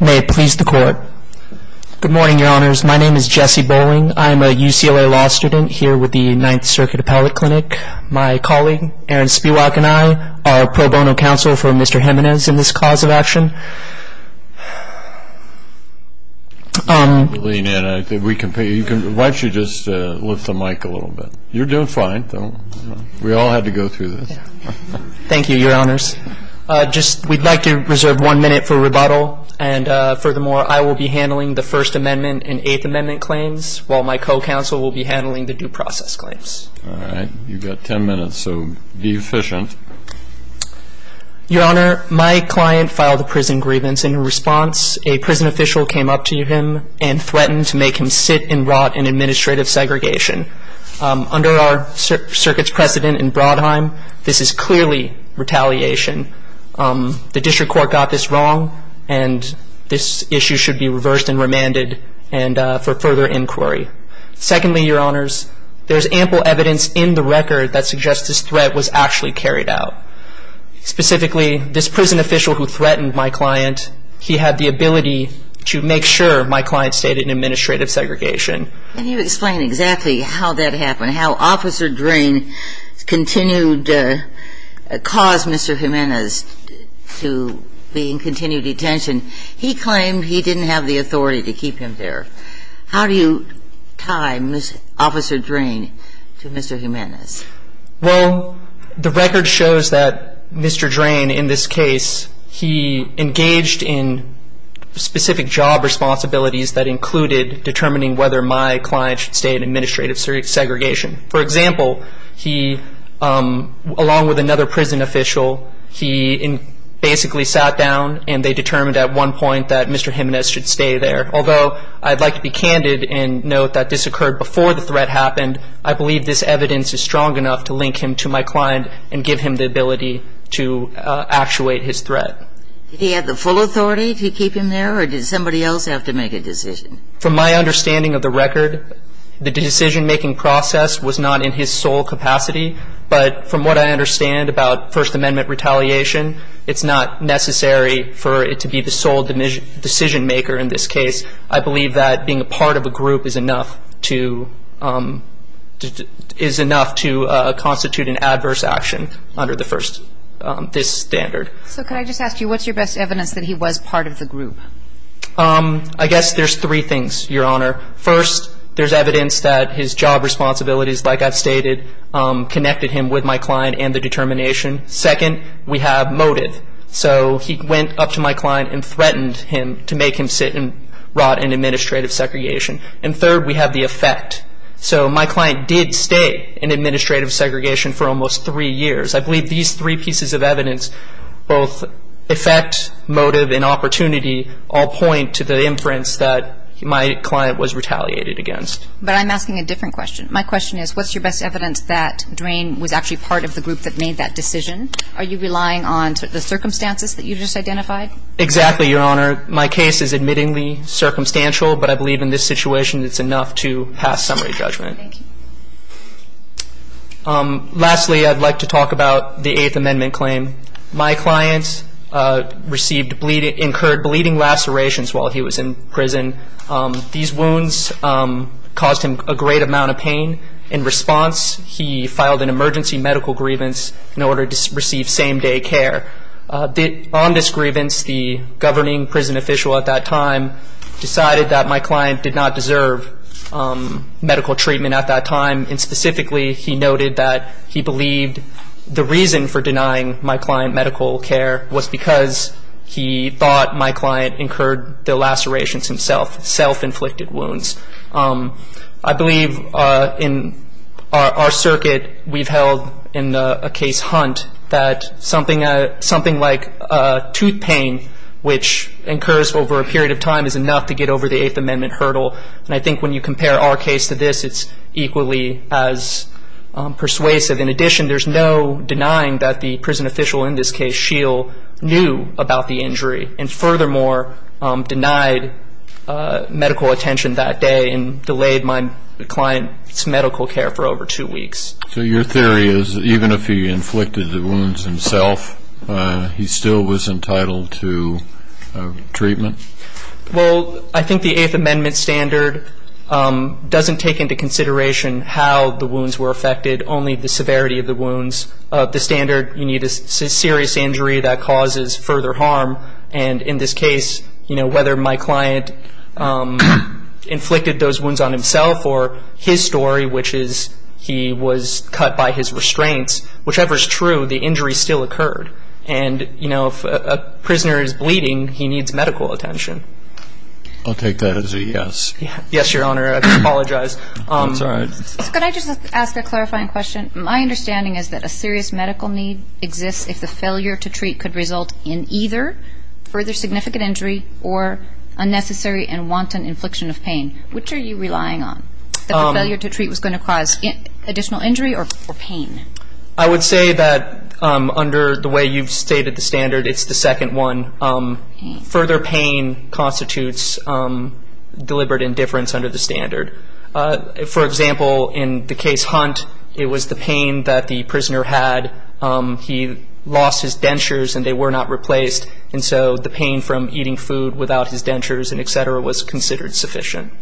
May it please the court. Good morning, your honors. My name is Jesse Bowling. I'm a UCLA law student here with the Ninth Circuit Appellate Clinic. My colleague, Aaron Spiewak, and I are pro bono counsel for Mr. Jimenez in this cause of action. Lean in. Why don't you just lift the mic a little bit. You're doing fine. We all had to go through this. Thank you, your honors. We'd like to reserve one minute for rebuttal. And furthermore, I will be handling the First Amendment and Eighth Amendment claims, while my co-counsel will be handling the due process claims. All right. You've got 10 minutes, so be efficient. Your honor, my client filed a prison grievance. In response, a prison official came up to him and threatened to make him sit and rot in administrative segregation. Under our circuit's precedent in Brodheim, this is clearly retaliation. The district court got this wrong, and this issue should be reversed and remanded for further inquiry. Secondly, your honors, there's ample evidence in the record that suggests this threat was actually carried out. Specifically, this prison official who threatened my client, he had the ability to make sure my client stayed in administrative segregation. Can you explain exactly how that happened, how Officer Drain continued to cause Mr. Jimenez to be in continued detention? He claimed he didn't have the authority to keep him there. How do you tie Officer Drain to Mr. Jimenez? Well, the record shows that Mr. Drain, in this case, he engaged in specific job responsibilities that included determining whether my client should stay in administrative segregation. For example, he, along with another prison official, he basically sat down, and they determined at one point that Mr. Jimenez should stay there. Although I'd like to be candid and note that this occurred before the threat happened, I believe this evidence is strong enough to link him to my client and give him the ability to actuate his threat. Did he have the full authority to keep him there, or did somebody else have to make a decision? From my understanding of the record, the decision-making process was not in his sole capacity. But from what I understand about First Amendment retaliation, it's not necessary for it to be the sole decision-maker in this case. I believe that being a part of a group is enough to constitute an adverse action under this standard. So could I just ask you, what's your best evidence that he was part of the group? I guess there's three things, Your Honor. First, there's evidence that his job responsibilities, like I've stated, connected him with my client and the determination. Second, we have motive. So he went up to my client and threatened him to make him sit and rot in administrative segregation. And third, we have the effect. So my client did stay in administrative segregation for almost three years. I believe these three pieces of evidence, both effect, motive, and opportunity, all point to the inference that my client was retaliated against. But I'm asking a different question. My question is, what's your best evidence that Drain was actually part of the group that made that decision? Are you relying on the circumstances that you just identified? Exactly, Your Honor. My case is admittingly circumstantial, but I believe in this situation it's enough to pass summary judgment. Thank you. Lastly, I'd like to talk about the Eighth Amendment claim. My client received bleeding, incurred bleeding lacerations while he was in prison. These wounds caused him a great amount of pain. In response, he filed an emergency medical grievance in order to receive same-day care. On this grievance, the governing prison official at that time decided that my client did not deserve medical treatment at that time. And specifically, he noted that he believed the reason for denying my client medical care was because he thought my client incurred the lacerations himself, self-inflicted wounds. I believe in our circuit we've held in a case Hunt that something like tooth pain, which incurs over a period of time, is enough to get over the Eighth Amendment hurdle. And I think when you compare our case to this, it's equally as persuasive. In addition, there's no denying that the prison official in this case, Scheel, knew about the injury and furthermore denied medical attention that day and delayed my client's medical care for over two weeks. So your theory is even if he inflicted the wounds himself, he still was entitled to treatment? Well, I think the Eighth Amendment standard doesn't take into consideration how the wounds were affected. Only the severity of the wounds. The standard, you need a serious injury that causes further harm. And in this case, you know, whether my client inflicted those wounds on himself or his story, which is he was cut by his restraints, whichever is true, the injury still occurred. And, you know, if a prisoner is bleeding, he needs medical attention. I'll take that as a yes. Yes, Your Honor. I apologize. That's all right. Could I just ask a clarifying question? My understanding is that a serious medical need exists if the failure to treat could result in either further significant injury or unnecessary and wanton infliction of pain. Which are you relying on? That the failure to treat was going to cause additional injury or pain? I would say that under the way you've stated the standard, it's the second one. Further pain constitutes deliberate indifference under the standard. For example, in the case Hunt, it was the pain that the prisoner had. He lost his dentures and they were not replaced. And so the pain from eating food without his dentures and et cetera was considered sufficient.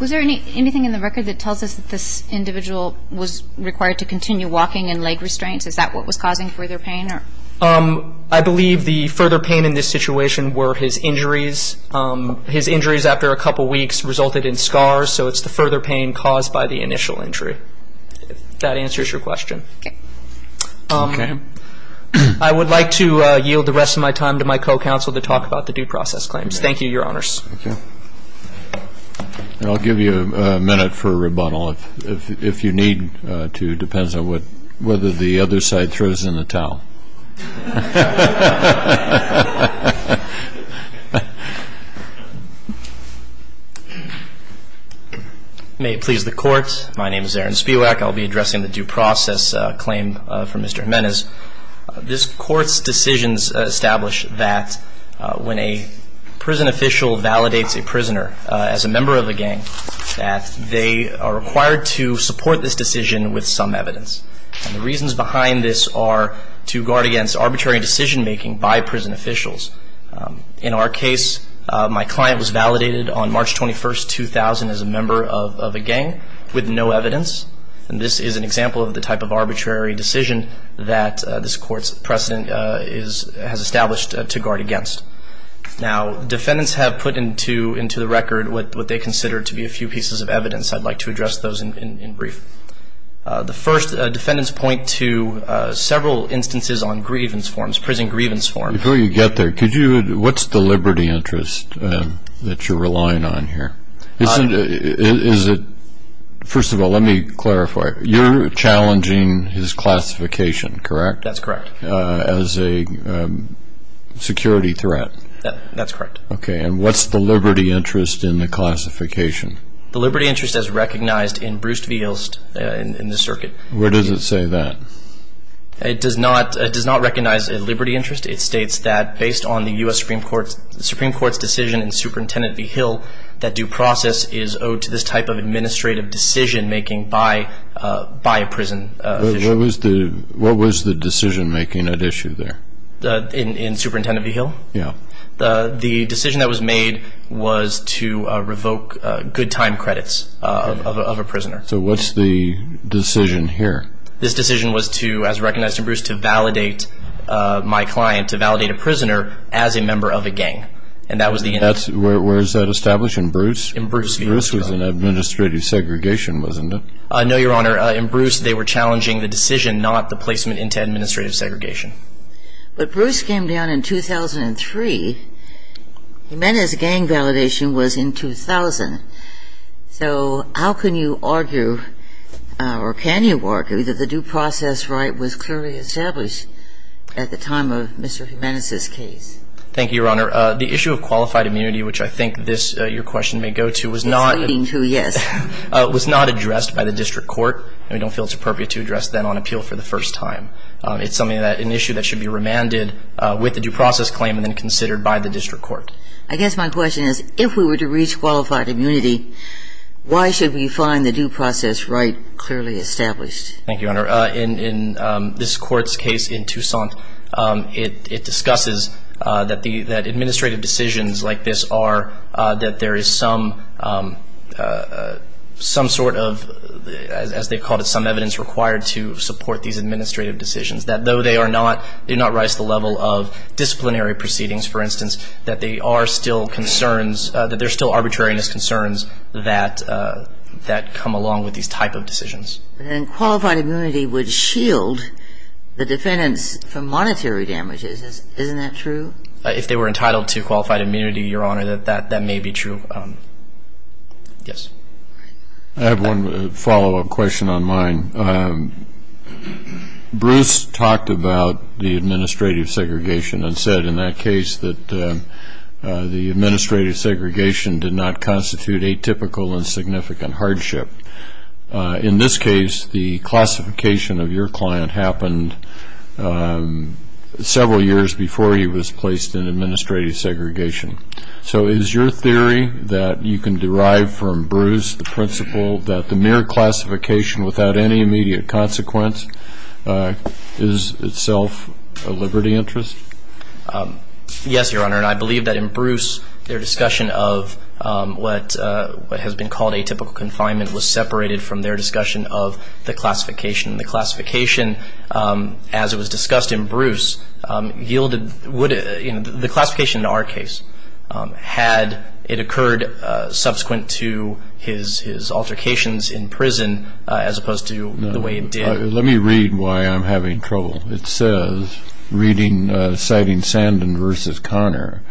Was there anything in the record that tells us that this individual was required to continue walking and leg restraints? Is that what was causing further pain? I believe the further pain in this situation were his injuries. His injuries after a couple weeks resulted in scars. So it's the further pain caused by the initial injury. If that answers your question. Okay. I would like to yield the rest of my time to my co-counsel to talk about the due process claims. Thank you, Your Honors. Thank you. And I'll give you a minute for a rebuttal if you need to. It depends on whether the other side throws in a towel. May it please the Court. My name is Aaron Spiewak. I'll be addressing the due process claim for Mr. Jimenez. This Court's decisions establish that when a prison official validates a prisoner as a member of a gang, that they are required to support this decision with some evidence. And the reasons behind this are to guard against arbitrary decision-making by prison officials. In our case, my client was validated on March 21, 2000, as a member of a gang with no evidence. And this is an example of the type of arbitrary decision that this Court's precedent has established to guard against. Now, defendants have put into the record what they consider to be a few pieces of evidence. I'd like to address those in brief. The first, defendants point to several instances on grievance forms, prison grievance forms. Before you get there, what's the liberty interest that you're relying on here? First of all, let me clarify. You're challenging his classification, correct? That's correct. As a security threat? That's correct. Okay. And what's the liberty interest in the classification? The liberty interest as recognized in Bruce V. Hill's, in the circuit. Where does it say that? It does not recognize a liberty interest. It states that based on the U.S. Supreme Court's decision and Superintendent V. Hill, that due process is owed to this type of administrative decision-making by a prison official. What was the decision-making at issue there? In Superintendent V. Hill? Yeah. The decision that was made was to revoke good time credits of a prisoner. So what's the decision here? This decision was to, as recognized in Bruce, to validate my client, to validate a prisoner as a member of a gang. And that was the intent. Where is that established? In Bruce? In Bruce V. Hill. Bruce was in administrative segregation, wasn't it? No, Your Honor. In Bruce, they were challenging the decision, not the placement into administrative segregation. But Bruce came down in 2003. Jimenez's gang validation was in 2000. So how can you argue or can you argue that the due process right was clearly established at the time of Mr. Jimenez's case? Thank you, Your Honor. The issue of qualified immunity, which I think this, your question may go to, was not addressed by the district court. We don't feel it's appropriate to address that on appeal for the first time. It's an issue that should be remanded with the due process claim and then considered by the district court. I guess my question is, if we were to reach qualified immunity, why should we find the due process right clearly established? Thank you, Your Honor. In this Court's case in Tucson, it discusses that administrative decisions like this are that there is some sort of, as they call it, some evidence required to support these administrative decisions, that though they do not rise to the level of disciplinary proceedings, for instance, that they are still concerns, that there's still arbitrariness concerns that come along with these type of decisions. And qualified immunity would shield the defendants from monetary damages. Isn't that true? If they were entitled to qualified immunity, Your Honor, that may be true. Yes. I have one follow-up question on mine. Bruce talked about the administrative segregation and said in that case that the administrative segregation did not constitute atypical and significant hardship. In this case, the classification of your client happened several years before he was placed in administrative segregation. So is your theory that you can derive from Bruce the principle that the mere classification without any immediate consequence is itself a liberty interest? Yes, Your Honor, and I believe that in Bruce their discussion of what has been called atypical confinement was separated from their discussion of the classification. The classification, as it was discussed in Bruce, yielded the classification in our case had it occurred subsequent to his altercations in prison as opposed to the way it did. Let me read why I'm having trouble. It says, citing Sandin v. Conner,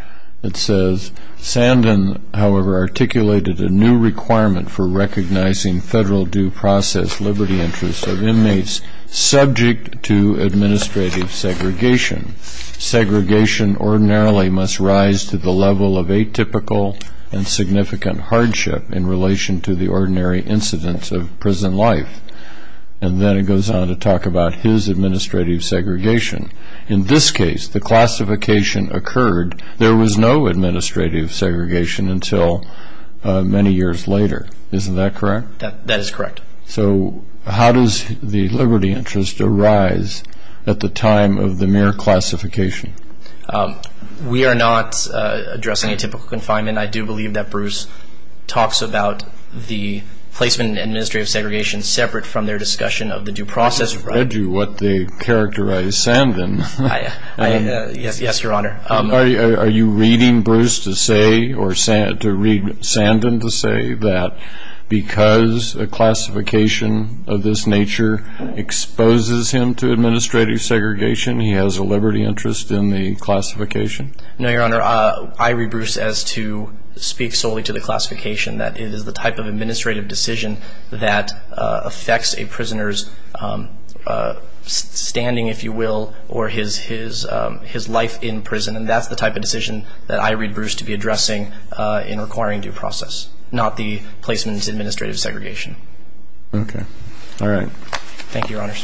it says, Sandin, however, articulated a new requirement for recognizing federal due process liberty interests of inmates subject to administrative segregation. Segregation ordinarily must rise to the level of atypical and significant hardship in relation to the ordinary incidence of prison life. And then it goes on to talk about his administrative segregation. In this case, the classification occurred. There was no administrative segregation until many years later. Isn't that correct? That is correct. So how does the liberty interest arise at the time of the mere classification? We are not addressing atypical confinement. I do believe that Bruce talks about the placement in administrative segregation separate from their discussion of the due process. I read you what they characterized Sandin. Yes, Your Honor. Are you reading Bruce to say or to read Sandin to say that because a classification of this nature exposes him to administrative segregation, he has a liberty interest in the classification? No, Your Honor. I read Bruce as to speak solely to the classification, that it is the type of administrative decision that affects a prisoner's standing, if you will, or his life in prison. And that's the type of decision that I read Bruce to be addressing in requiring due process, not the placement in administrative segregation. Okay. All right. Thank you, Your Honors.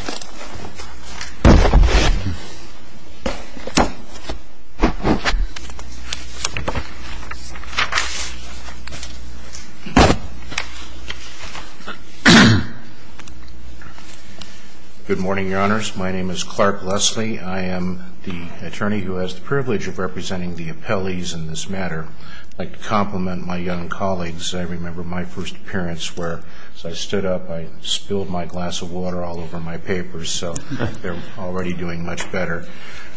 Good morning, Your Honors. My name is Clark Leslie. I am the attorney who has the privilege of representing the appellees in this matter. I'd like to compliment my young colleagues. I remember my first appearance where, as I stood up, I spilled my glass of water all over my papers. So they're already doing much better.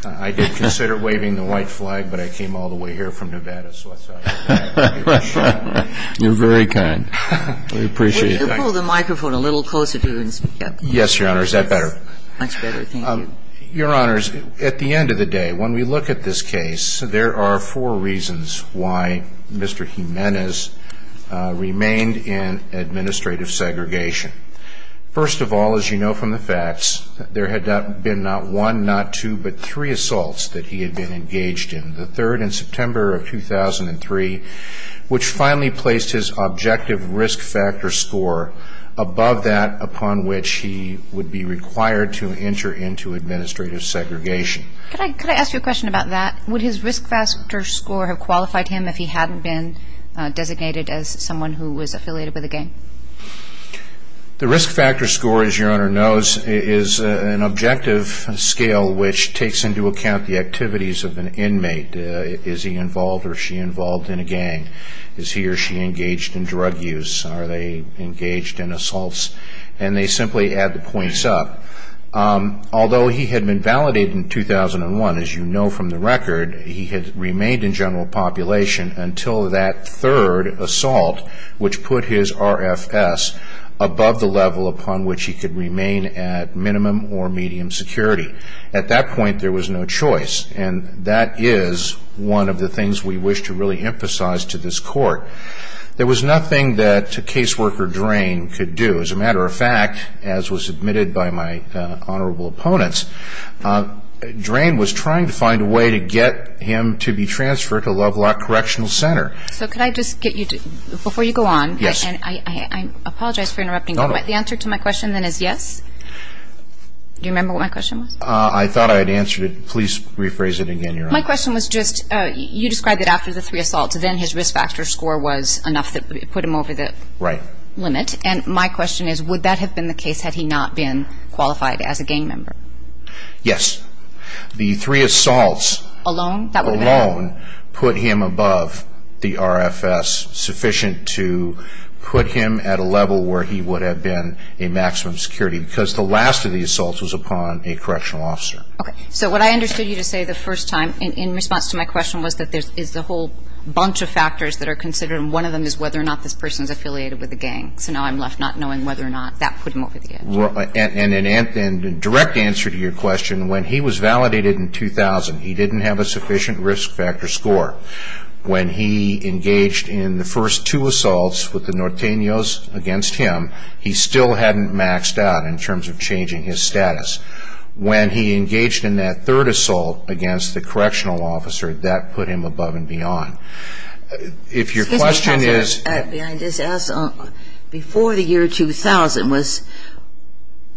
I did consider waving the white flag, but I came all the way here from Nevada, so I thought I'd give it a shot. You're very kind. We appreciate it. Will you pull the microphone a little closer to you and speak up? Yes, Your Honor. Is that better? That's better. Thank you. Your Honors, at the end of the day, when we look at this case, there are four reasons why Mr. Jimenez remained in administrative segregation. First of all, as you know from the facts, there had been not one, not two, but three assaults that he had been engaged in, the third in September of 2003, which finally placed his objective risk factor score above that upon which he would be required to enter into administrative segregation. Could I ask you a question about that? Would his risk factor score have qualified him if he hadn't been designated as someone who was affiliated with a gang? The risk factor score, as Your Honor knows, is an objective scale which takes into account the activities of an inmate. Is he involved or is she involved in a gang? Is he or she engaged in drug use? Are they engaged in assaults? And they simply add the points up. Although he had been validated in 2001, as you know from the record, he had remained in general population until that third assault, which put his RFS above the level upon which he could remain at minimum or medium security. At that point, there was no choice. And that is one of the things we wish to really emphasize to this Court. There was nothing that Caseworker Drain could do. As a matter of fact, as was admitted by my honorable opponents, Drain was trying to find a way to get him to be transferred to Lovelock Correctional Center. So could I just get you to, before you go on, and I apologize for interrupting, but the answer to my question then is yes? Do you remember what my question was? I thought I had answered it. Please rephrase it again, Your Honor. My question was just, you described that after the three assaults, then his risk factor score was enough that it put him over the limit. And my question is, would that have been the case had he not been qualified as a gang member? Yes. The three assaults alone put him above the RFS, sufficient to put him at a level where he would have been a maximum security, because the last of the assaults was upon a correctional officer. Okay. So what I understood you to say the first time, in response to my question, was that there is a whole bunch of factors that are considered, and one of them is whether or not this person is affiliated with the gang. So now I'm left not knowing whether or not that put him over the edge. And in direct answer to your question, when he was validated in 2000, he didn't have a sufficient risk factor score. When he engaged in the first two assaults with the Norteños against him, he still hadn't maxed out in terms of changing his status. When he engaged in that third assault against the correctional officer, that put him above and beyond. If your question is – Excuse me, Counselor. Behind this, before the year 2000, was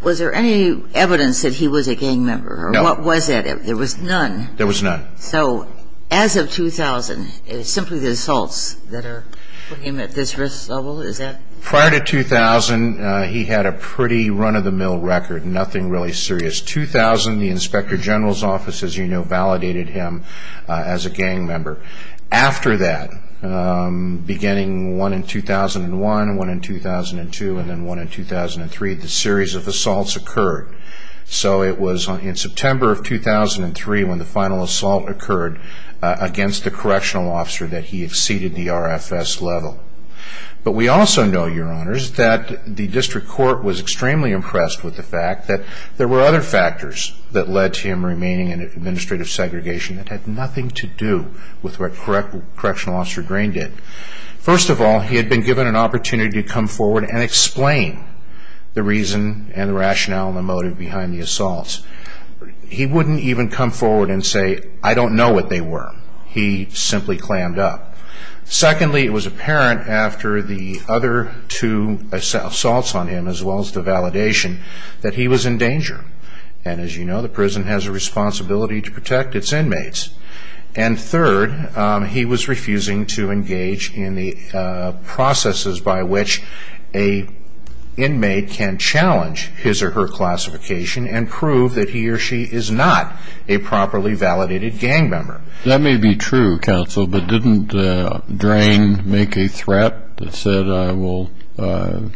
there any evidence that he was a gang member? No. Or what was it? There was none. There was none. So as of 2000, it's simply the assaults that are putting him at this risk level? Is that – Prior to 2000, he had a pretty run-of-the-mill record, nothing really serious. 2000, the Inspector General's Office, as you know, validated him as a gang member. After that, beginning one in 2001, one in 2002, and then one in 2003, the series of assaults occurred. So it was in September of 2003 when the final assault occurred against the correctional officer that he exceeded the RFS level. But we also know, Your Honors, that the district court was extremely impressed with the fact that there were other factors that led to him remaining in administrative segregation that had nothing to do with what Correctional Officer Green did. First of all, he had been given an opportunity to come forward and explain the reason and the rationale and the motive behind the assaults. He wouldn't even come forward and say, I don't know what they were. He simply clammed up. Secondly, it was apparent after the other two assaults on him, as well as the validation, that he was in danger. And as you know, the prison has a responsibility to protect its inmates. And third, he was refusing to engage in the processes by which an inmate can challenge his or her classification and prove that he or she is not a properly validated gang member. That may be true, Counsel, but didn't Drain make a threat that said, I will, in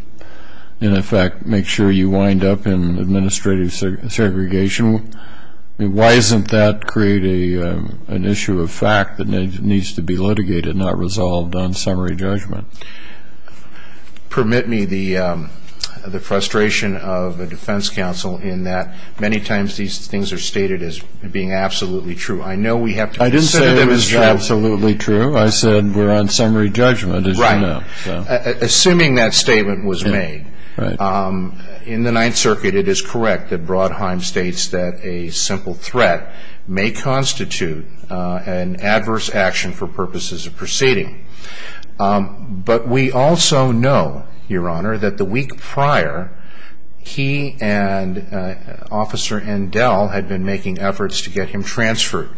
effect, make sure you wind up in administrative segregation? Why doesn't that create an issue of fact that needs to be litigated, not resolved on summary judgment? Permit me the frustration of the defense counsel in that many times these things are stated as being absolutely true. I know we have to consider them as true. I didn't say it was absolutely true. I said we're on summary judgment, as you know. Right. Assuming that statement was made, in the Ninth Circuit, it is correct that Brodheim states that a simple threat may constitute an adverse action for purposes of proceeding. But we also know, Your Honor, that the week prior, he and Officer Endel had been making efforts to get him transferred.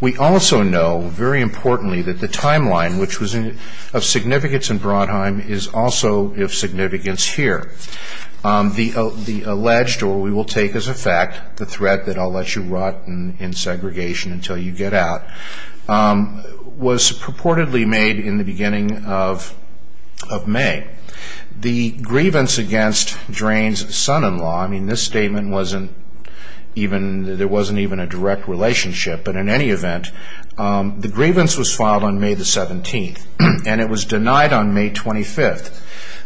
We also know, very importantly, that the timeline, which was of significance in Brodheim, is also of significance here. The alleged, or we will take as a fact, the threat that I'll let you rot in segregation until you get out, was purportedly made in the beginning of May. The grievance against Drain's son-in-law, I mean this statement wasn't even, there wasn't even a direct relationship, but in any event, the grievance was filed on May 17th and it was denied on May 25th.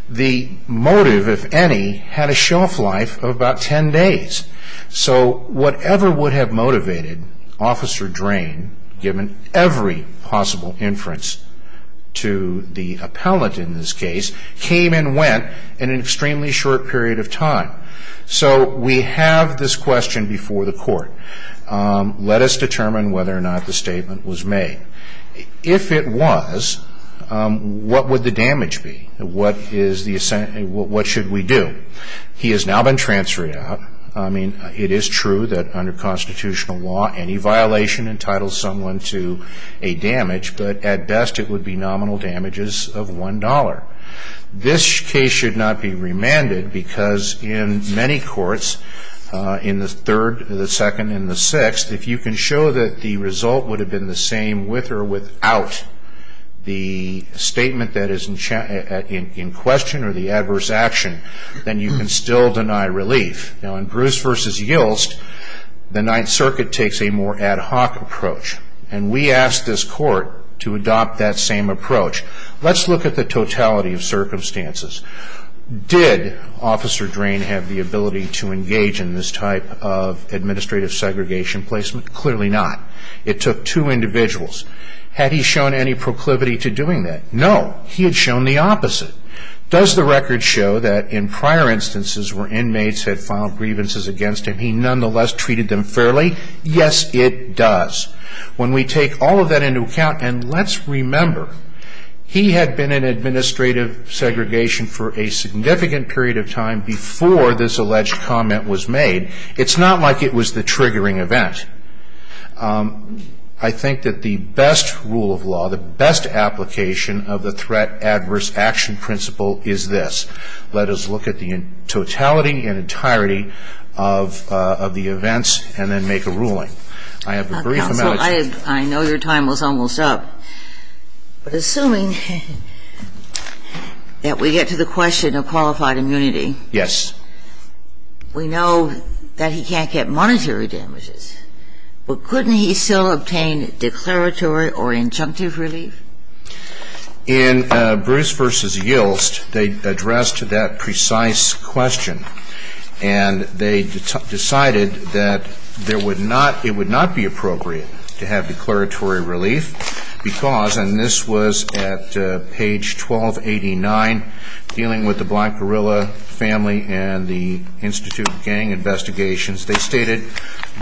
The motive, if any, had a shelf life of about 10 days. So whatever would have motivated Officer Drain, given every possible inference to the appellant in this case, came and went in an extremely short period of time. So we have this question before the Court. Let us determine whether or not the statement was made. If it was, what would the damage be? What should we do? He has now been transferred out. I mean, it is true that under constitutional law, any violation entitles someone to a damage, but at best it would be nominal damages of $1. This case should not be remanded because in many courts, in the third, the second, and the sixth, if you can show that the result would have been the same with or without the statement that is in question, or the adverse action, then you can still deny relief. Now in Bruce v. Yilst, the Ninth Circuit takes a more ad hoc approach, and we asked this Court to adopt that same approach. Let's look at the totality of circumstances. Did Officer Drain have the ability to engage in this type of administrative segregation placement? Clearly not. It took two individuals. Had he shown any proclivity to doing that? No, he had shown the opposite. Does the record show that in prior instances where inmates had filed grievances against him, he nonetheless treated them fairly? Yes, it does. When we take all of that into account, and let's remember, he had been in administrative segregation for a significant period of time before this alleged comment was made. It's not like it was the triggering event. I think that the best rule of law, the best application of the threat adverse action principle is this. Let us look at the totality and entirety of the events and then make a ruling. I have a brief amount of time. Counsel, I know your time was almost up, but assuming that we get to the question of qualified immunity. Yes. We know that he can't get monetary damages. But couldn't he still obtain declaratory or injunctive relief? In Bruce v. Yilst, they addressed that precise question, and they decided that it would not be appropriate to have declaratory relief because, and this was at page 1289, dealing with the Black Gorilla family and the Institute of Gang Investigations. They stated,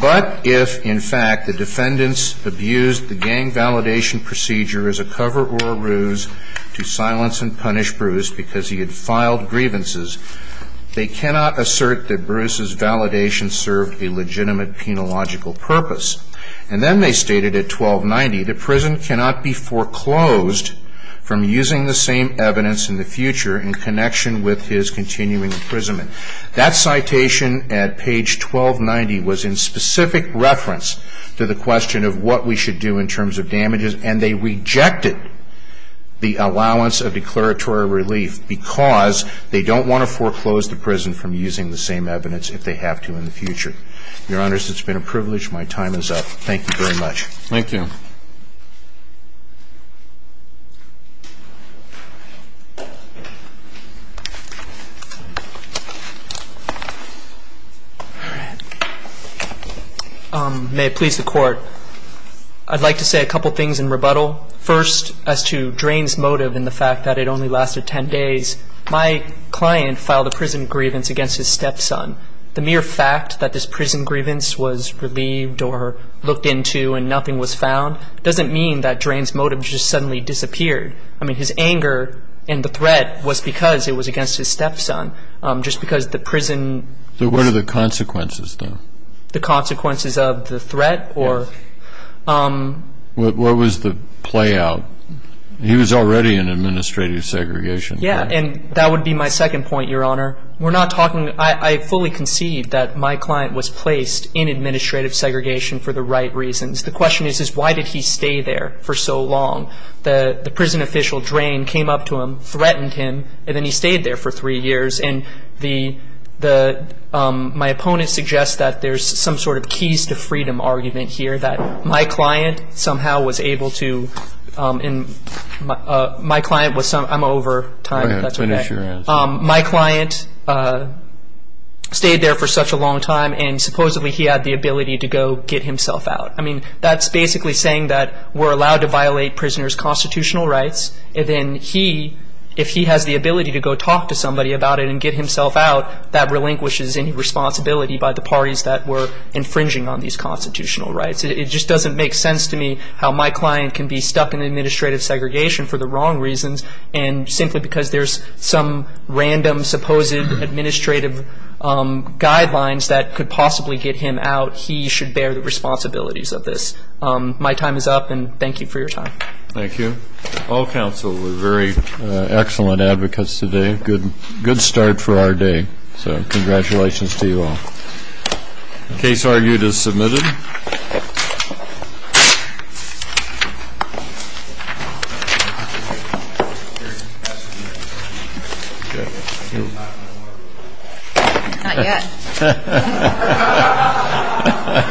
but if, in fact, the defendants abused the gang validation procedure as a cover or a ruse to silence and punish Bruce because he had filed grievances, they cannot assert that Bruce's validation served a legitimate penological purpose. And then they stated at 1290, the prison cannot be foreclosed from using the same evidence in the future in connection with his continuing imprisonment. That citation at page 1290 was in specific reference to the question of what we should do in terms of damages, and they rejected the allowance of declaratory relief because they don't want to foreclose the prison from using the same evidence if they have to in the future. Your Honors, it's been a privilege. My time is up. Thank you very much. Thank you. May it please the Court. I'd like to say a couple things in rebuttal. First, as to Drain's motive and the fact that it only lasted 10 days, my client filed a prison grievance against his stepson. The mere fact that this prison grievance was relieved or looked into and nothing was found doesn't mean that Drain's motive just suddenly disappeared. I mean, his anger and the threat was because it was against his stepson, just because the prison... So what are the consequences, then? The consequences of the threat or... What was the play out? He was already in administrative segregation. Yeah, and that would be my second point, Your Honor. We're not talking... I fully concede that my client was placed in administrative segregation for the right reasons. The question is, is why did he stay there for so long? The prison official, Drain, came up to him, threatened him, and then he stayed there for three years. And my opponent suggests that there's some sort of keys to freedom argument here, that my client somehow was able to... My client was... I'm over time. Go ahead. Finish your answer. My client stayed there for such a long time, and supposedly he had the ability to go get himself out. I mean, that's basically saying that we're allowed to violate prisoners' constitutional rights, and then he, if he has the ability to go talk to somebody about it and get himself out, that relinquishes any responsibility by the parties that were infringing on these constitutional rights. It just doesn't make sense to me how my client can be stuck in administrative segregation for the wrong reasons, and simply because there's some random supposed administrative guidelines that could possibly get him out, he should bear the responsibilities of this. My time is up, and thank you for your time. Thank you. All counsel were very excellent advocates today. Good start for our day. So congratulations to you all. Case argued as submitted. Not yet. Ha, ha, ha, ha, ha, ha, ha, ha, ha, ha, ha,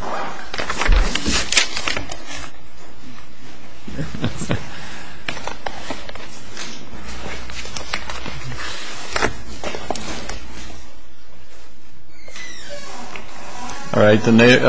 ha, ha, ha! All right, the next...